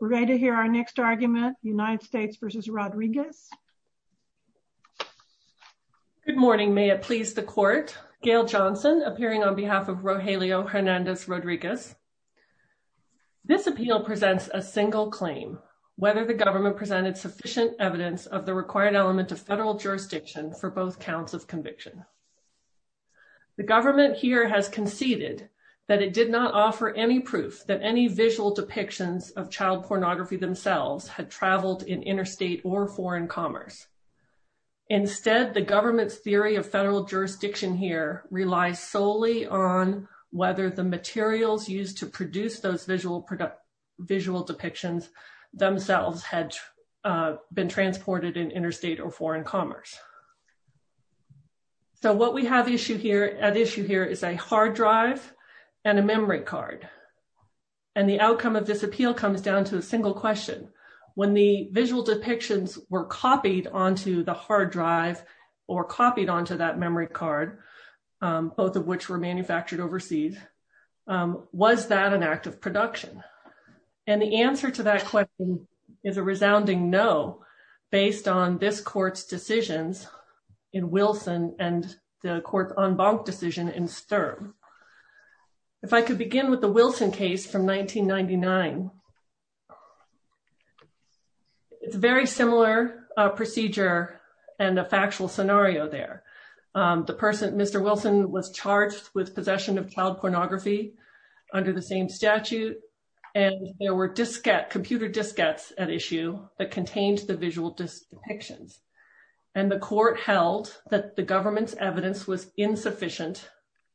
We're ready to hear our next argument, United States v. Rodriguez. Good morning, may it please the court. Gail Johnson appearing on behalf of Rogelio Hernandez Rodriguez. This appeal presents a single claim, whether the government presented sufficient evidence of the required element of federal jurisdiction for both counts of conviction. The government here has conceded that it did not offer any proof that any visual depictions of child pornography themselves had traveled in interstate or foreign commerce. Instead, the government's theory of federal jurisdiction here relies solely on whether the materials used to produce those visual visual depictions themselves had been transported in interstate or foreign commerce. So what we have issue here at issue here is a and a memory card. And the outcome of this appeal comes down to a single question. When the visual depictions were copied onto the hard drive, or copied onto that memory card, both of which were manufactured overseas. Was that an act of production? And the answer to that question is a resounding no, based on this court's decisions in Wilson and the court on decision in Sturm. If I could begin with the Wilson case from 1999. It's a very similar procedure and a factual scenario there. The person Mr. Wilson was charged with possession of child pornography under the same statute. And there were diskette computer diskettes at issue that contains the visual depictions. And the court held that the government's evidence was insufficient,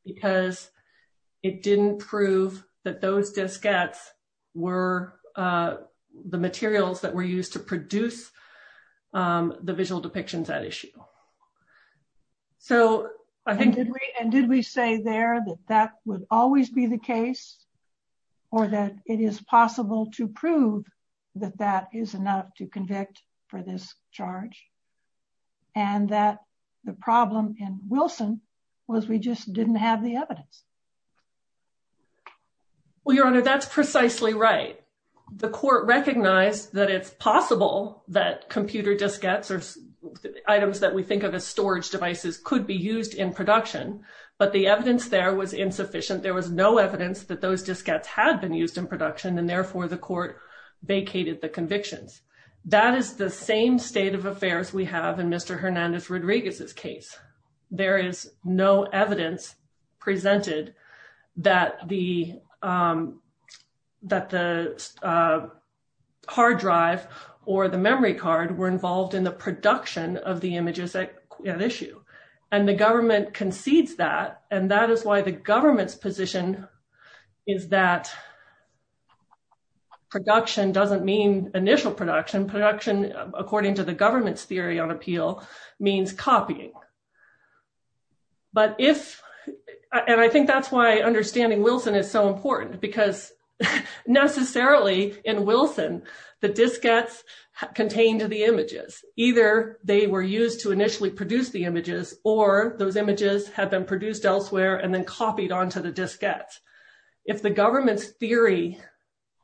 because it didn't prove that those diskettes were the materials that were used to produce the visual depictions at issue. So I think and did we say there that that would always be the case, or that it is possible to prove that that is enough to convict for this charge? And that the problem in Wilson was we just didn't have the evidence? Well, Your Honor, that's precisely right. The court recognized that it's possible that computer diskettes or items that we think of as storage devices could be used in production. But the evidence there was insufficient. There was no evidence that those diskettes had been used in production, and therefore the court vacated the convictions. That is the same state of affairs we have in Mr. Hernandez Rodriguez's case. There is no evidence presented that the that the hard drive or the memory card were involved in the production of the images at issue. And the government concedes that and that is why the government's position is that production doesn't mean initial production. Production, according to the government's theory on appeal, means copying. But if and I think that's why understanding Wilson is so important, because necessarily in Wilson, the diskettes contained the images, either they were used to initially produce the images, or those images have been copied onto the diskettes. If the government's theory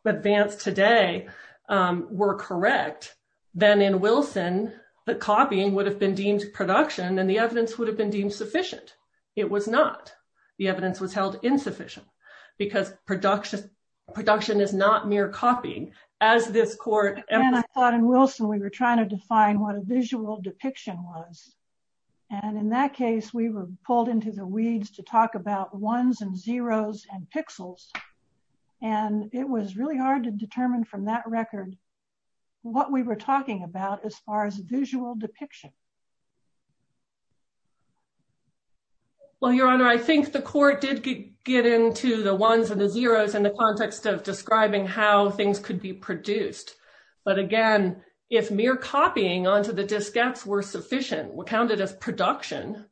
advanced today, were correct, then in Wilson, the copying would have been deemed production and the evidence would have been deemed sufficient. It was not. The evidence was held insufficient, because production, production is not mere copying, as this court and I thought in Wilson, we were trying to define what a visual depiction was. And in that case, we were pulled into the weeds to talk about ones and zeros and pixels. And it was really hard to determine from that record, what we were talking about as far as visual depiction. Well, Your Honor, I think the court did get into the ones and the zeros in the context of describing how things could be produced. But again, if mere copying onto the diskettes were sufficient, were counted as production,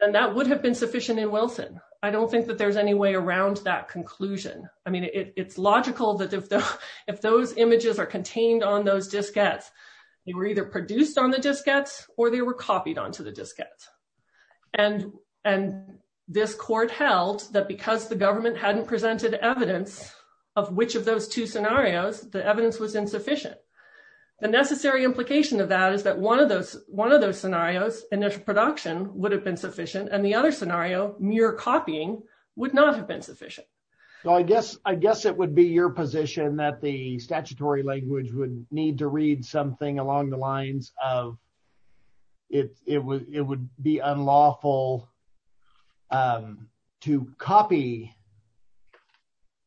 and that would have been sufficient in Wilson, I don't think that there's any way around that conclusion. I mean, it's logical that if those images are contained on those diskettes, they were either produced on the diskettes, or they were copied onto the diskettes. And, and this court held that because the government hadn't presented evidence of which of those two scenarios, the evidence was that is that one of those one of those scenarios, initial production would have been sufficient. And the other scenario, mere copying would not have been sufficient. So I guess I guess it would be your position that the statutory language would need to read something along the lines of it, it would it would be unlawful to copy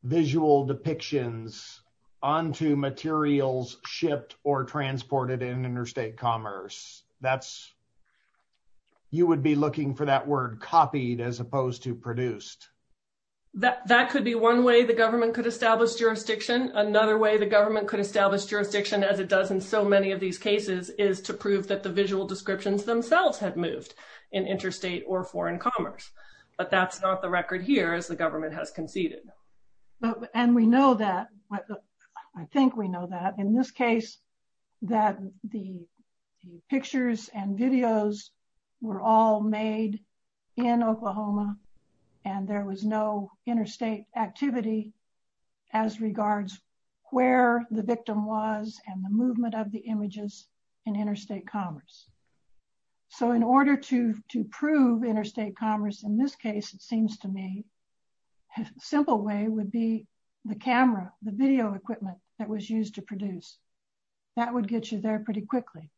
visual depictions onto materials shipped or transported in interstate commerce. That's, you would be looking for that word copied as opposed to produced. That could be one way the government could establish jurisdiction. Another way the government could establish jurisdiction as it does in so many of these cases is to prove that the visual descriptions themselves had moved in interstate or foreign commerce. But that's not the record here as the government has conceded. And we know that. I think we know that in this case, that the pictures and videos were all made in Oklahoma. And there was no interstate activity as regards where the victim was and the movement of the images in interstate commerce. So in order to prove interstate commerce, in this case, it simple way would be the camera, the video equipment that was used to produce, that would get you there pretty quickly.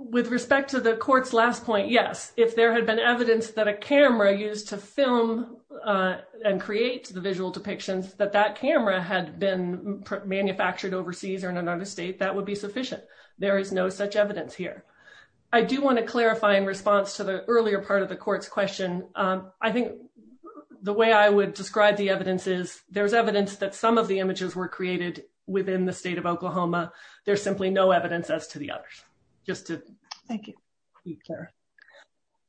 With respect to the court's last point, yes, if there had been evidence that a camera used to film and create the visual depictions that that camera had been manufactured overseas or in another state, that would be sufficient. There is no such evidence here. I do want to clarify in response to the I think the way I would describe the evidence is there's evidence that some of the images were created within the state of Oklahoma. There's simply no evidence as to the others. Just to thank you.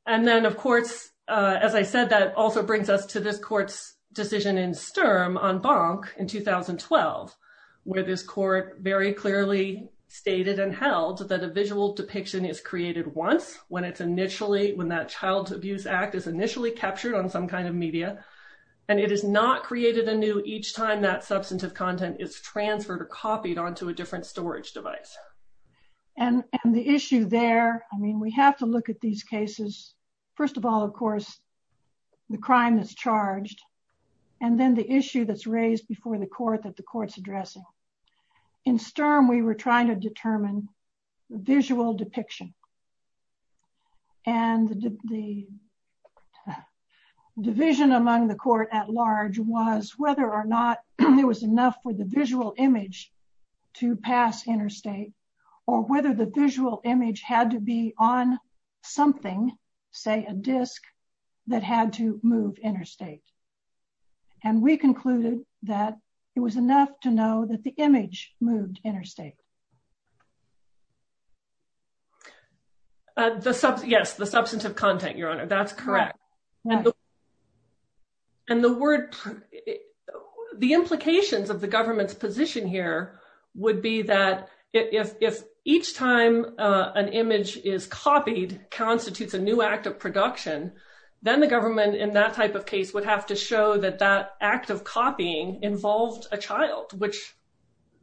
And then, of course, as I said, that also brings us to this court's decision in Sturm on Bonk in 2012, where this court very clearly stated and held that a visual depiction is created once when it's initially when that Child Abuse Act is initially captured on some kind of media and it is not created anew each time that substantive content is transferred or copied onto a different storage device. And the issue there, I mean, we have to look at these cases. First of all, of course, the crime is charged and then the issue that's raised before the court that the court's addressing. In Sturm, we were trying to determine the visual depiction. And the division among the court at large was whether or not there was enough for the visual image to pass interstate or whether the visual image had to be on something, say a disc, that had to move interstate. And we concluded that it was enough to know that the image moved interstate. Yes, the substantive content, Your Honor, that's correct. And the word, the implications of the government's position here would be that if each time an image is copied constitutes a new act of production, then the government in that type of case would have to show that that act of copying involved a child, which,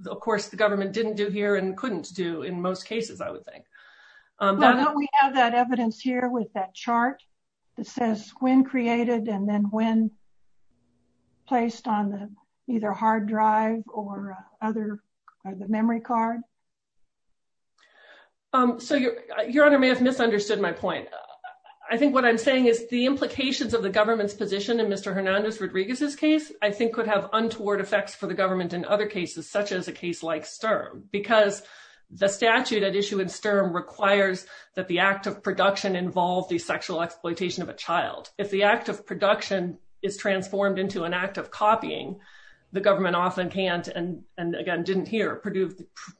of course, the government didn't do here and couldn't do in most cases, I think. Well, don't we have that evidence here with that chart that says when created and then when placed on the either hard drive or the memory card? So, Your Honor may have misunderstood my point. I think what I'm saying is the implications of the government's position in Mr. Hernandez Rodriguez's case, I think, could have untoward effects for the government in other cases, such as a term requires that the act of production involve the sexual exploitation of a child. If the act of production is transformed into an act of copying, the government often can't and again, didn't hear,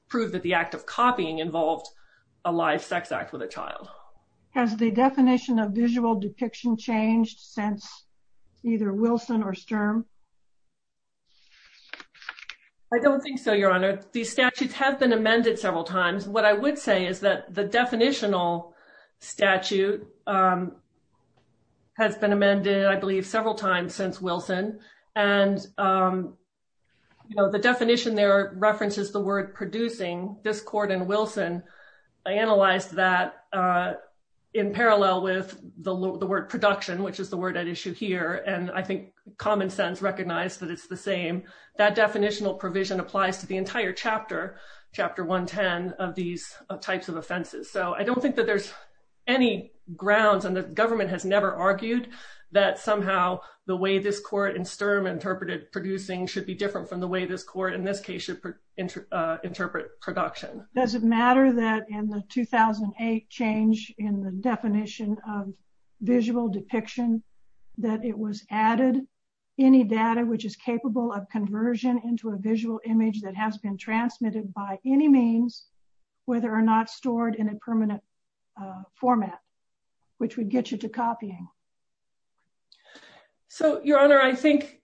prove that the act of copying involved a live sex act with a child. Has the definition of visual depiction changed since either Wilson or Sturm? I don't think so, Your Honor. These statutes have been amended several times. What I would say is that the definitional statute has been amended, I believe, several times since Wilson. And the definition there references the word producing. This court in Wilson analyzed that in parallel with the word production, which is the word at issue here. And I think common sense recognized that it's the same. That definitional provision applies to the entire chapter, chapter 110 of these types of offenses. So I don't think that there's any grounds and the government has never argued that somehow the way this court in Sturm interpreted producing should be different from the way this court in this case should interpret production. Does it matter that in the 2008 change in the definition of visual depiction, that it was added any data which is capable of conversion into a visual image that has been transmitted by any means, whether or not stored in a permanent format, which would get you to copying? So, Your Honor, I think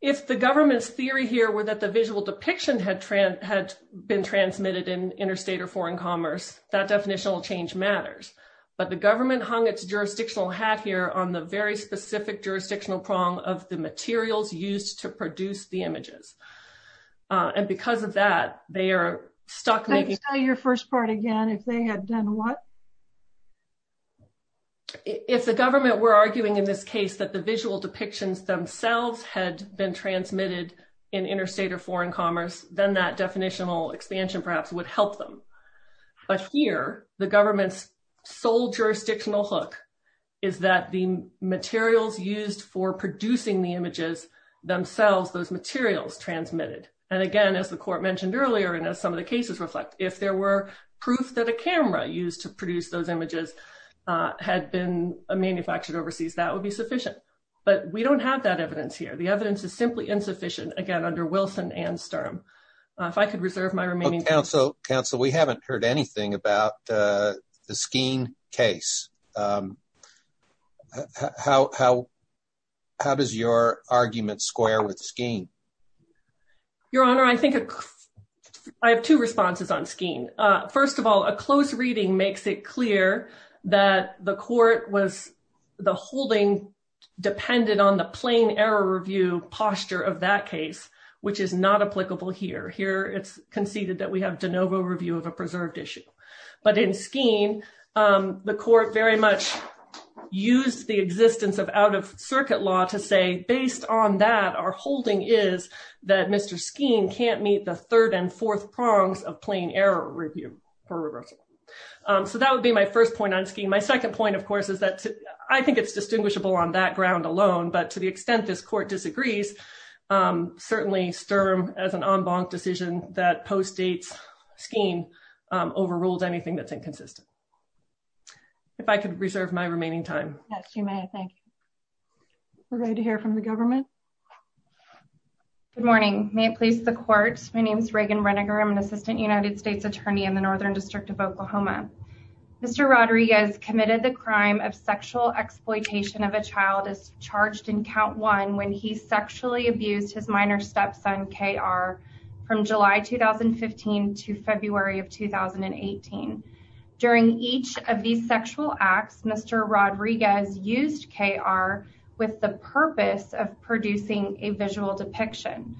if the government's theory here were that the visual depiction had been transmitted in interstate or foreign commerce, that definitional change matters. But the government hung its jurisdictional hat here on the very specific jurisdictional prong of the materials used to produce the images. And because of that, they are stuck making your first part again, if they had done what? If the government were arguing in this case that the visual depictions themselves had been transmitted in interstate or foreign commerce, then that definitional expansion perhaps would help them. But here, the government's sole jurisdictional hook is that the materials used for producing the images themselves, those materials transmitted. And again, as the court mentioned earlier, and as some of the cases reflect, if there were proof that a camera used to produce those images had been manufactured overseas, that would be sufficient. But we don't have that evidence here. The evidence is simply insufficient. Again, under Wilson and Sturm. If I could reserve my remaining time. Counsel, we haven't heard anything about the Skeen case. How does your argument square with Skeen? Your Honor, I think I have two responses on Skeen. First of all, a close reading makes it clear that the court was the holding dependent on the plain error review posture of that case, which is not applicable here. Here, it's conceded that we have de novo review of a preserved issue. But in Skeen, the court very much used the existence of out-of-circuit law to say, based on that, our holding is that Mr. Skeen can't meet the third and fourth prongs of plain error review for reversal. So that would be my first point on Skeen. My second point, of course, is that I think it's distinguishable on that ground alone. But to the extent this court disagrees, certainly Sturm as an en banc decision that ruled anything that's inconsistent. If I could reserve my remaining time. Yes, you may. Thank you. We're ready to hear from the government. Good morning. May it please the court. My name is Reagan Reniger. I'm an assistant United States attorney in the Northern District of Oklahoma. Mr. Rodriguez committed the crime of sexual exploitation of a child as charged in count one when he sexually abused his minor stepson, KR, from July 2015 to February of 2018. During each of these sexual acts, Mr. Rodriguez used KR with the purpose of producing a visual depiction.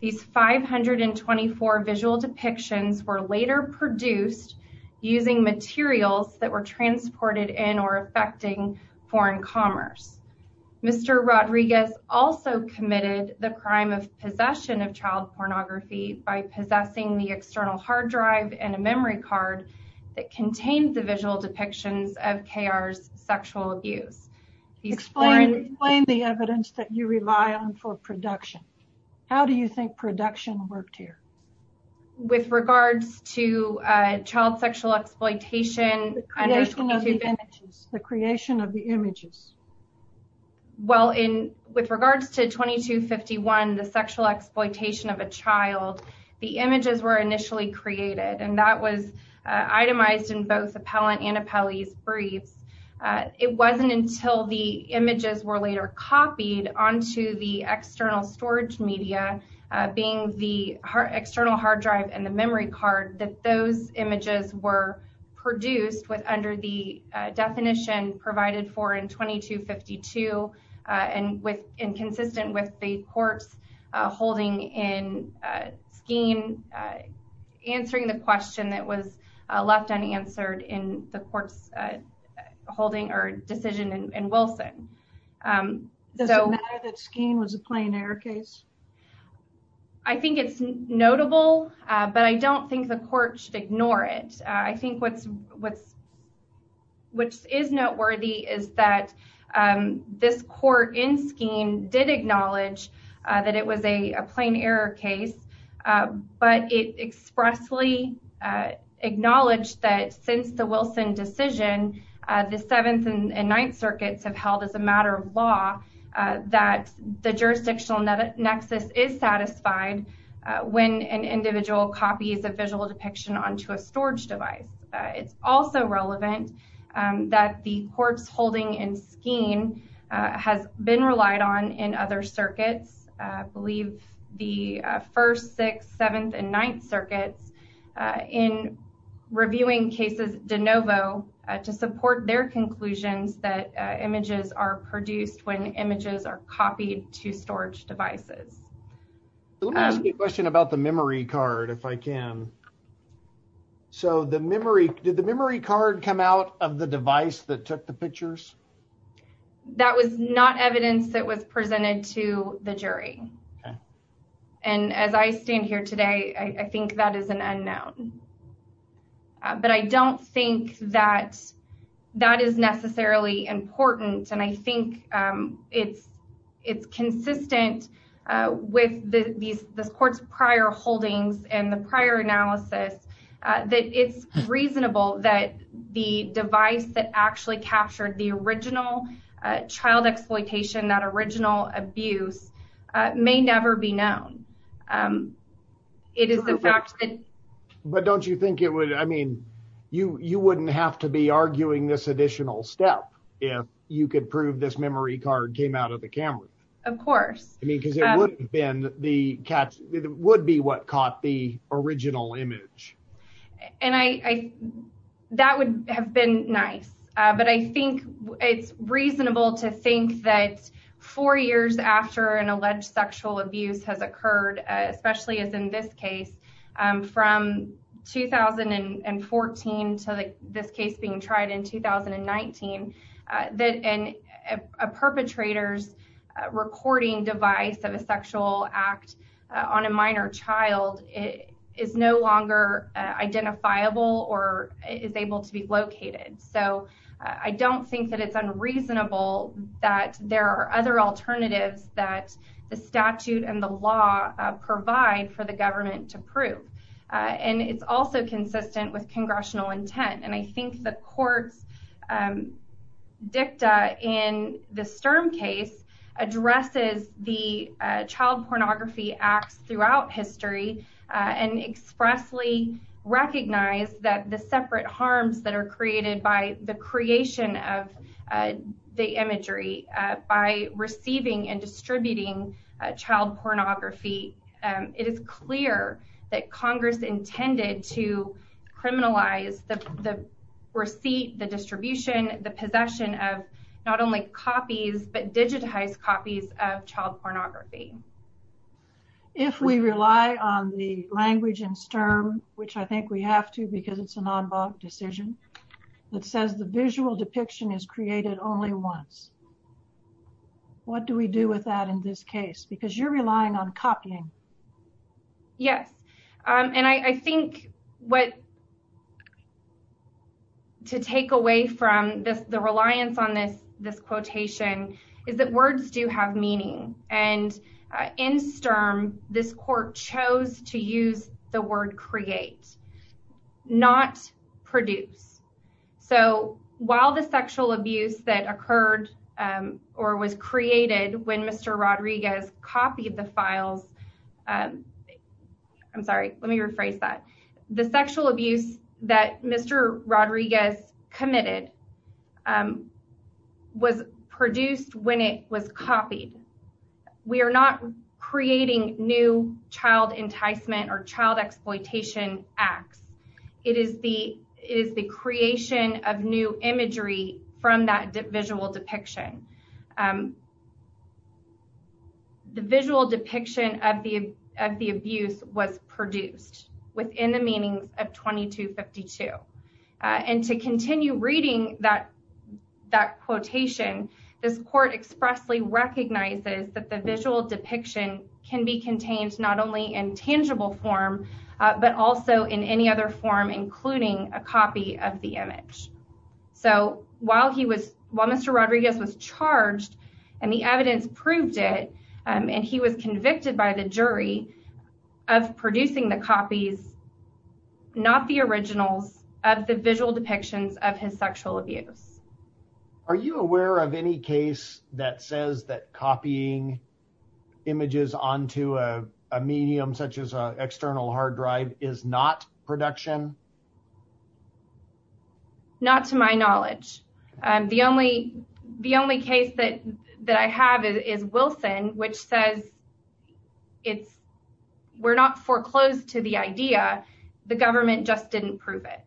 These 524 visual depictions were later produced using materials that were transported in or affecting foreign commerce. Mr. Rodriguez also committed the crime of possession of child pornography by possessing the external hard drive and a memory card that contained the visual depictions of KR's sexual abuse. Explain the evidence that you rely on for production. How do you think production worked here? With regards to child sexual exploitation. The creation of the images. Well, in with regards to 2251, the sexual exploitation of a child, the images were initially created and that was itemized in both appellant and appellee's briefs. It wasn't until the images were later copied onto the external storage media, being the external hard drive and the memory card that those images were produced with under the definition provided for in 2252 and consistent with the court's holding in Skeen, answering the question that was left unanswered in the court's holding or decision in Wilson. Does it matter that Skeen was a plein air case? I think it's notable, but I don't think the court should ignore it. I think what's what's. Which is noteworthy is that this court in Skeen did acknowledge that it was a plein air case, but it expressly acknowledged that since the Wilson decision, the Seventh and Ninth Circuits have held as a matter of law that the jurisdictional nexus is satisfied when an individual copies a visual depiction onto a storage device. It's also relevant that the court's holding in Skeen has been relied on in other circuits. I believe the first, sixth, seventh and ninth circuits in reviewing cases de novo to support their conclusions that images are produced when images are copied to storage devices. Let me ask you a question about the memory card, if I can. So the memory, did the memory card come out of the device that took the pictures? That was not evidence that was presented to the jury. And as I stand here today, I think that is an unknown. But I don't think that that is necessarily important, and I think it's it's consistent with the court's prior holdings and the prior analysis that it's reasonable that the device that actually captured the original child exploitation, that original abuse, may never be known. It is the fact that. But don't you think it would I mean, you you wouldn't have to be arguing this additional step if you could prove this memory card came out of the camera. Of course. I mean, because it would have been the cat would be what caught the original image. And I that would have been nice. But I think it's reasonable to think that four years after an alleged sexual abuse has occurred, especially as in this case, from 2014 to this case being tried in 2019, that a perpetrator's recording device of a sexual act on a minor child is no longer identifiable or is able to be located. So I don't think that it's unreasonable that there are other alternatives that the statute and the law provide for the government to prove. And it's also consistent with congressional intent. And I think the court's dicta in the Sturm case addresses the child pornography acts throughout history and expressly recognize that the separate harms that are created by the creation of the imagery by receiving and distributing child pornography. It is clear that Congress intended to criminalize the receipt, the distribution, the possession of not only copies, but digitized copies of child pornography. If we rely on the language in Sturm, which I think we have to because it's an en banc decision that says the visual depiction is created only once. What do we do with that in this case? Because you're relying on copying. Yes, and I think what. To take away from this, the reliance on this, this quotation is that words do have meaning and in Sturm, this court chose to use the word create, not produce. So while the sexual abuse that occurred or was created when Mr. Rodriguez copied the files, I'm sorry, let me rephrase that. The sexual abuse that Mr. Rodriguez committed was produced when it was copied. We are not creating new child enticement or child exploitation acts. It is the is the creation of new imagery from that visual depiction. The visual depiction of the of the abuse was produced within the meanings of twenty to fifty two and to continue reading that that quotation, this court expressly recognizes that the visual depiction can be contained not only in tangible form, but also in any other form, including a copy of the image. So while he was while Mr. Rodriguez was charged and the evidence proved it and he was convicted by the jury of producing the copies, not the originals of the visual depictions of his sexual abuse. Are you aware of any case that says that copying images onto a medium such as an image is not production? Not to my knowledge, the only the only case that that I have is Wilson, which says it's we're not foreclosed to the idea. The government just didn't prove it.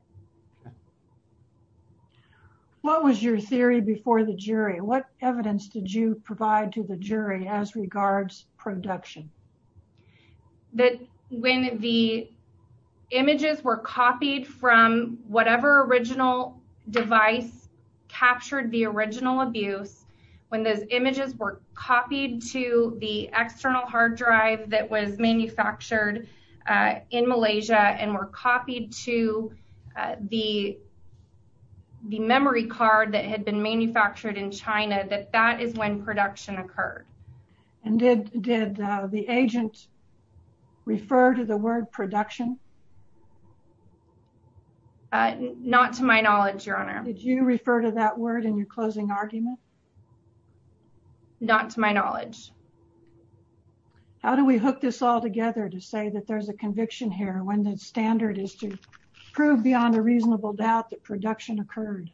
What was your theory before the jury? What evidence did you provide to the jury as regards production? That when the images were copied from whatever original device captured the original abuse, when those images were copied to the external hard drive that was manufactured in Malaysia and were copied to the. The memory card that had been manufactured in China, that that is when production occurred. And did did the agent refer to the word production? Not to my knowledge, your honor. Did you refer to that word in your closing argument? Not to my knowledge. How do we hook this all together to say that there's a conviction here when the standard is to prove beyond a reasonable doubt that production occurred?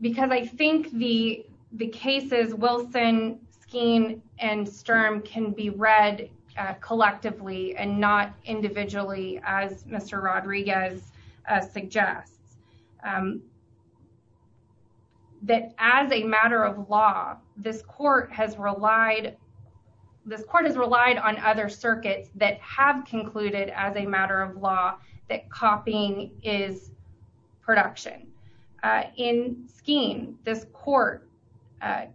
Because I think the the cases Wilson, Skeen and Sturm can be read collectively and not individually, as Mr. Rodriguez suggests, that as a matter of law, this court has relied this court has relied on other circuits that have concluded as a matter of law that copying is production. In Skeen, this court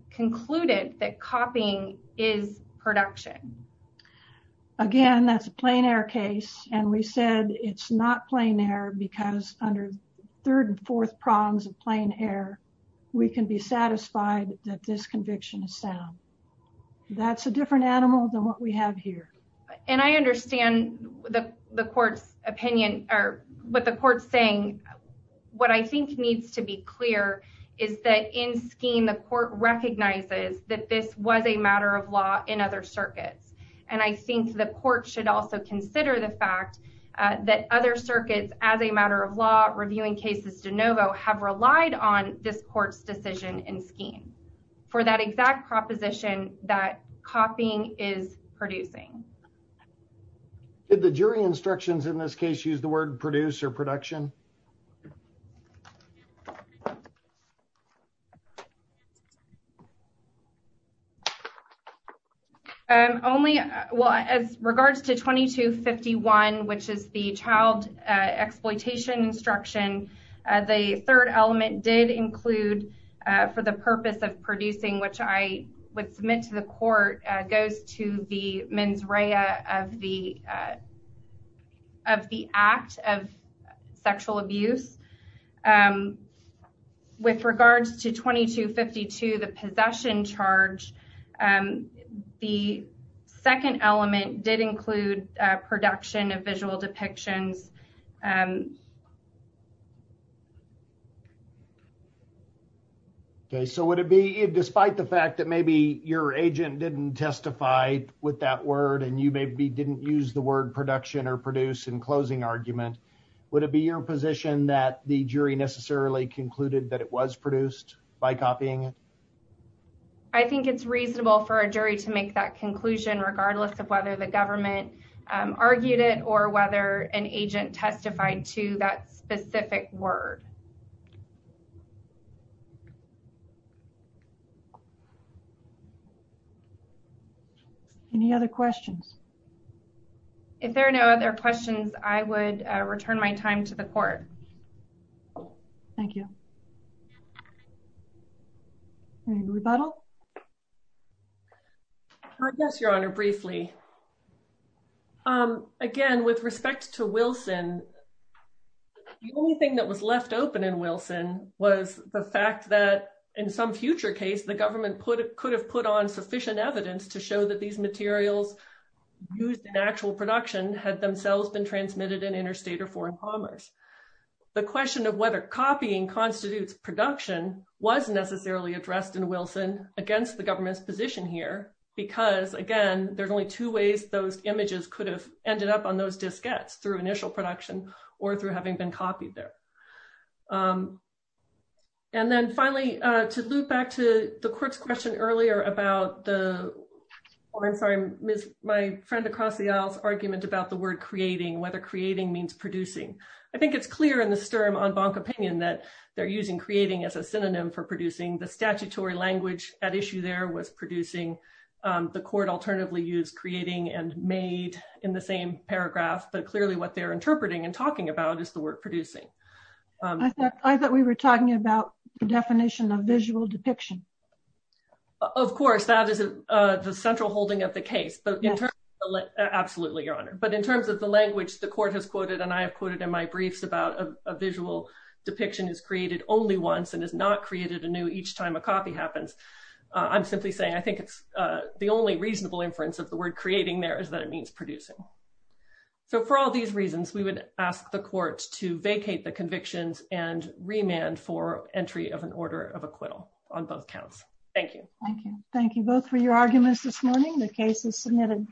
concluded that copying is production. Again, that's a plain air case, and we said it's not plain air because under third and fourth prongs of plain air, we can be satisfied that this conviction is sound. That's a different animal than what we have here. And I understand the court's opinion or what the court's saying. What I think needs to be clear is that in Skeen, the court recognizes that this was a matter of law in other circuits. And I think the court should also consider the fact that other circuits, as a matter of law, reviewing cases de novo, have relied on this court's decision in Skeen for that exact proposition that copying is producing. Did the jury instructions in this case use the word produce or production? Only as regards to 2251, which is the child exploitation instruction, the third element did include for the purpose of producing, which I would submit to the court goes to the mens rea of the of the act of sexual abuse. With regards to 2252, the possession charge, the second element did include production of visual depictions. OK, so would it be despite the fact that maybe your agent didn't testify with that word and you maybe didn't use the word production or produce in closing argument, would it be your position that the jury necessarily concluded that it was produced by copying it? I think it's reasonable for a jury to make that conclusion, regardless of whether the government argued it or whether an agent made that conclusion. the government argued it or whether the agent testified to that specific word. Any other questions? If there are no other questions, I would return my time to the court. Thank you. So in Wilson, the only thing that was left open in Wilson was the fact that in some future case, the government put it could have put on sufficient evidence to show that these materials used in actual production had themselves been transmitted in interstate or foreign commerce. The question of whether copying constitutes production was necessarily addressed in Wilson against the government's position here, because again, there's only two ways those images could have ended up on those diskettes through initial production or through having been copied there. And then finally, to loop back to the court's question earlier about the, I'm sorry, my friend across the aisle's argument about the word creating, whether creating means producing. I think it's clear in the stern on Bonk opinion that they're using creating as a synonym for producing the statutory language at issue there was producing the court alternatively use creating and made in the same paragraph. But clearly what they're interpreting and talking about is the word producing. I thought we were talking about the definition of visual depiction. Of course, that is the central holding of the case. But absolutely, Your Honor. But in terms of the language the court has quoted, and I have quoted in my briefs about a visual depiction is created only once and is not created anew each time a copy happens. I'm simply saying I think it's the only reasonable inference of the word creating there is that it means producing. So for all these reasons, we would ask the court to vacate the convictions and remand for entry of an order of acquittal on both counts. Thank you. Thank you. Thank you both for your arguments this morning. The case is submitted.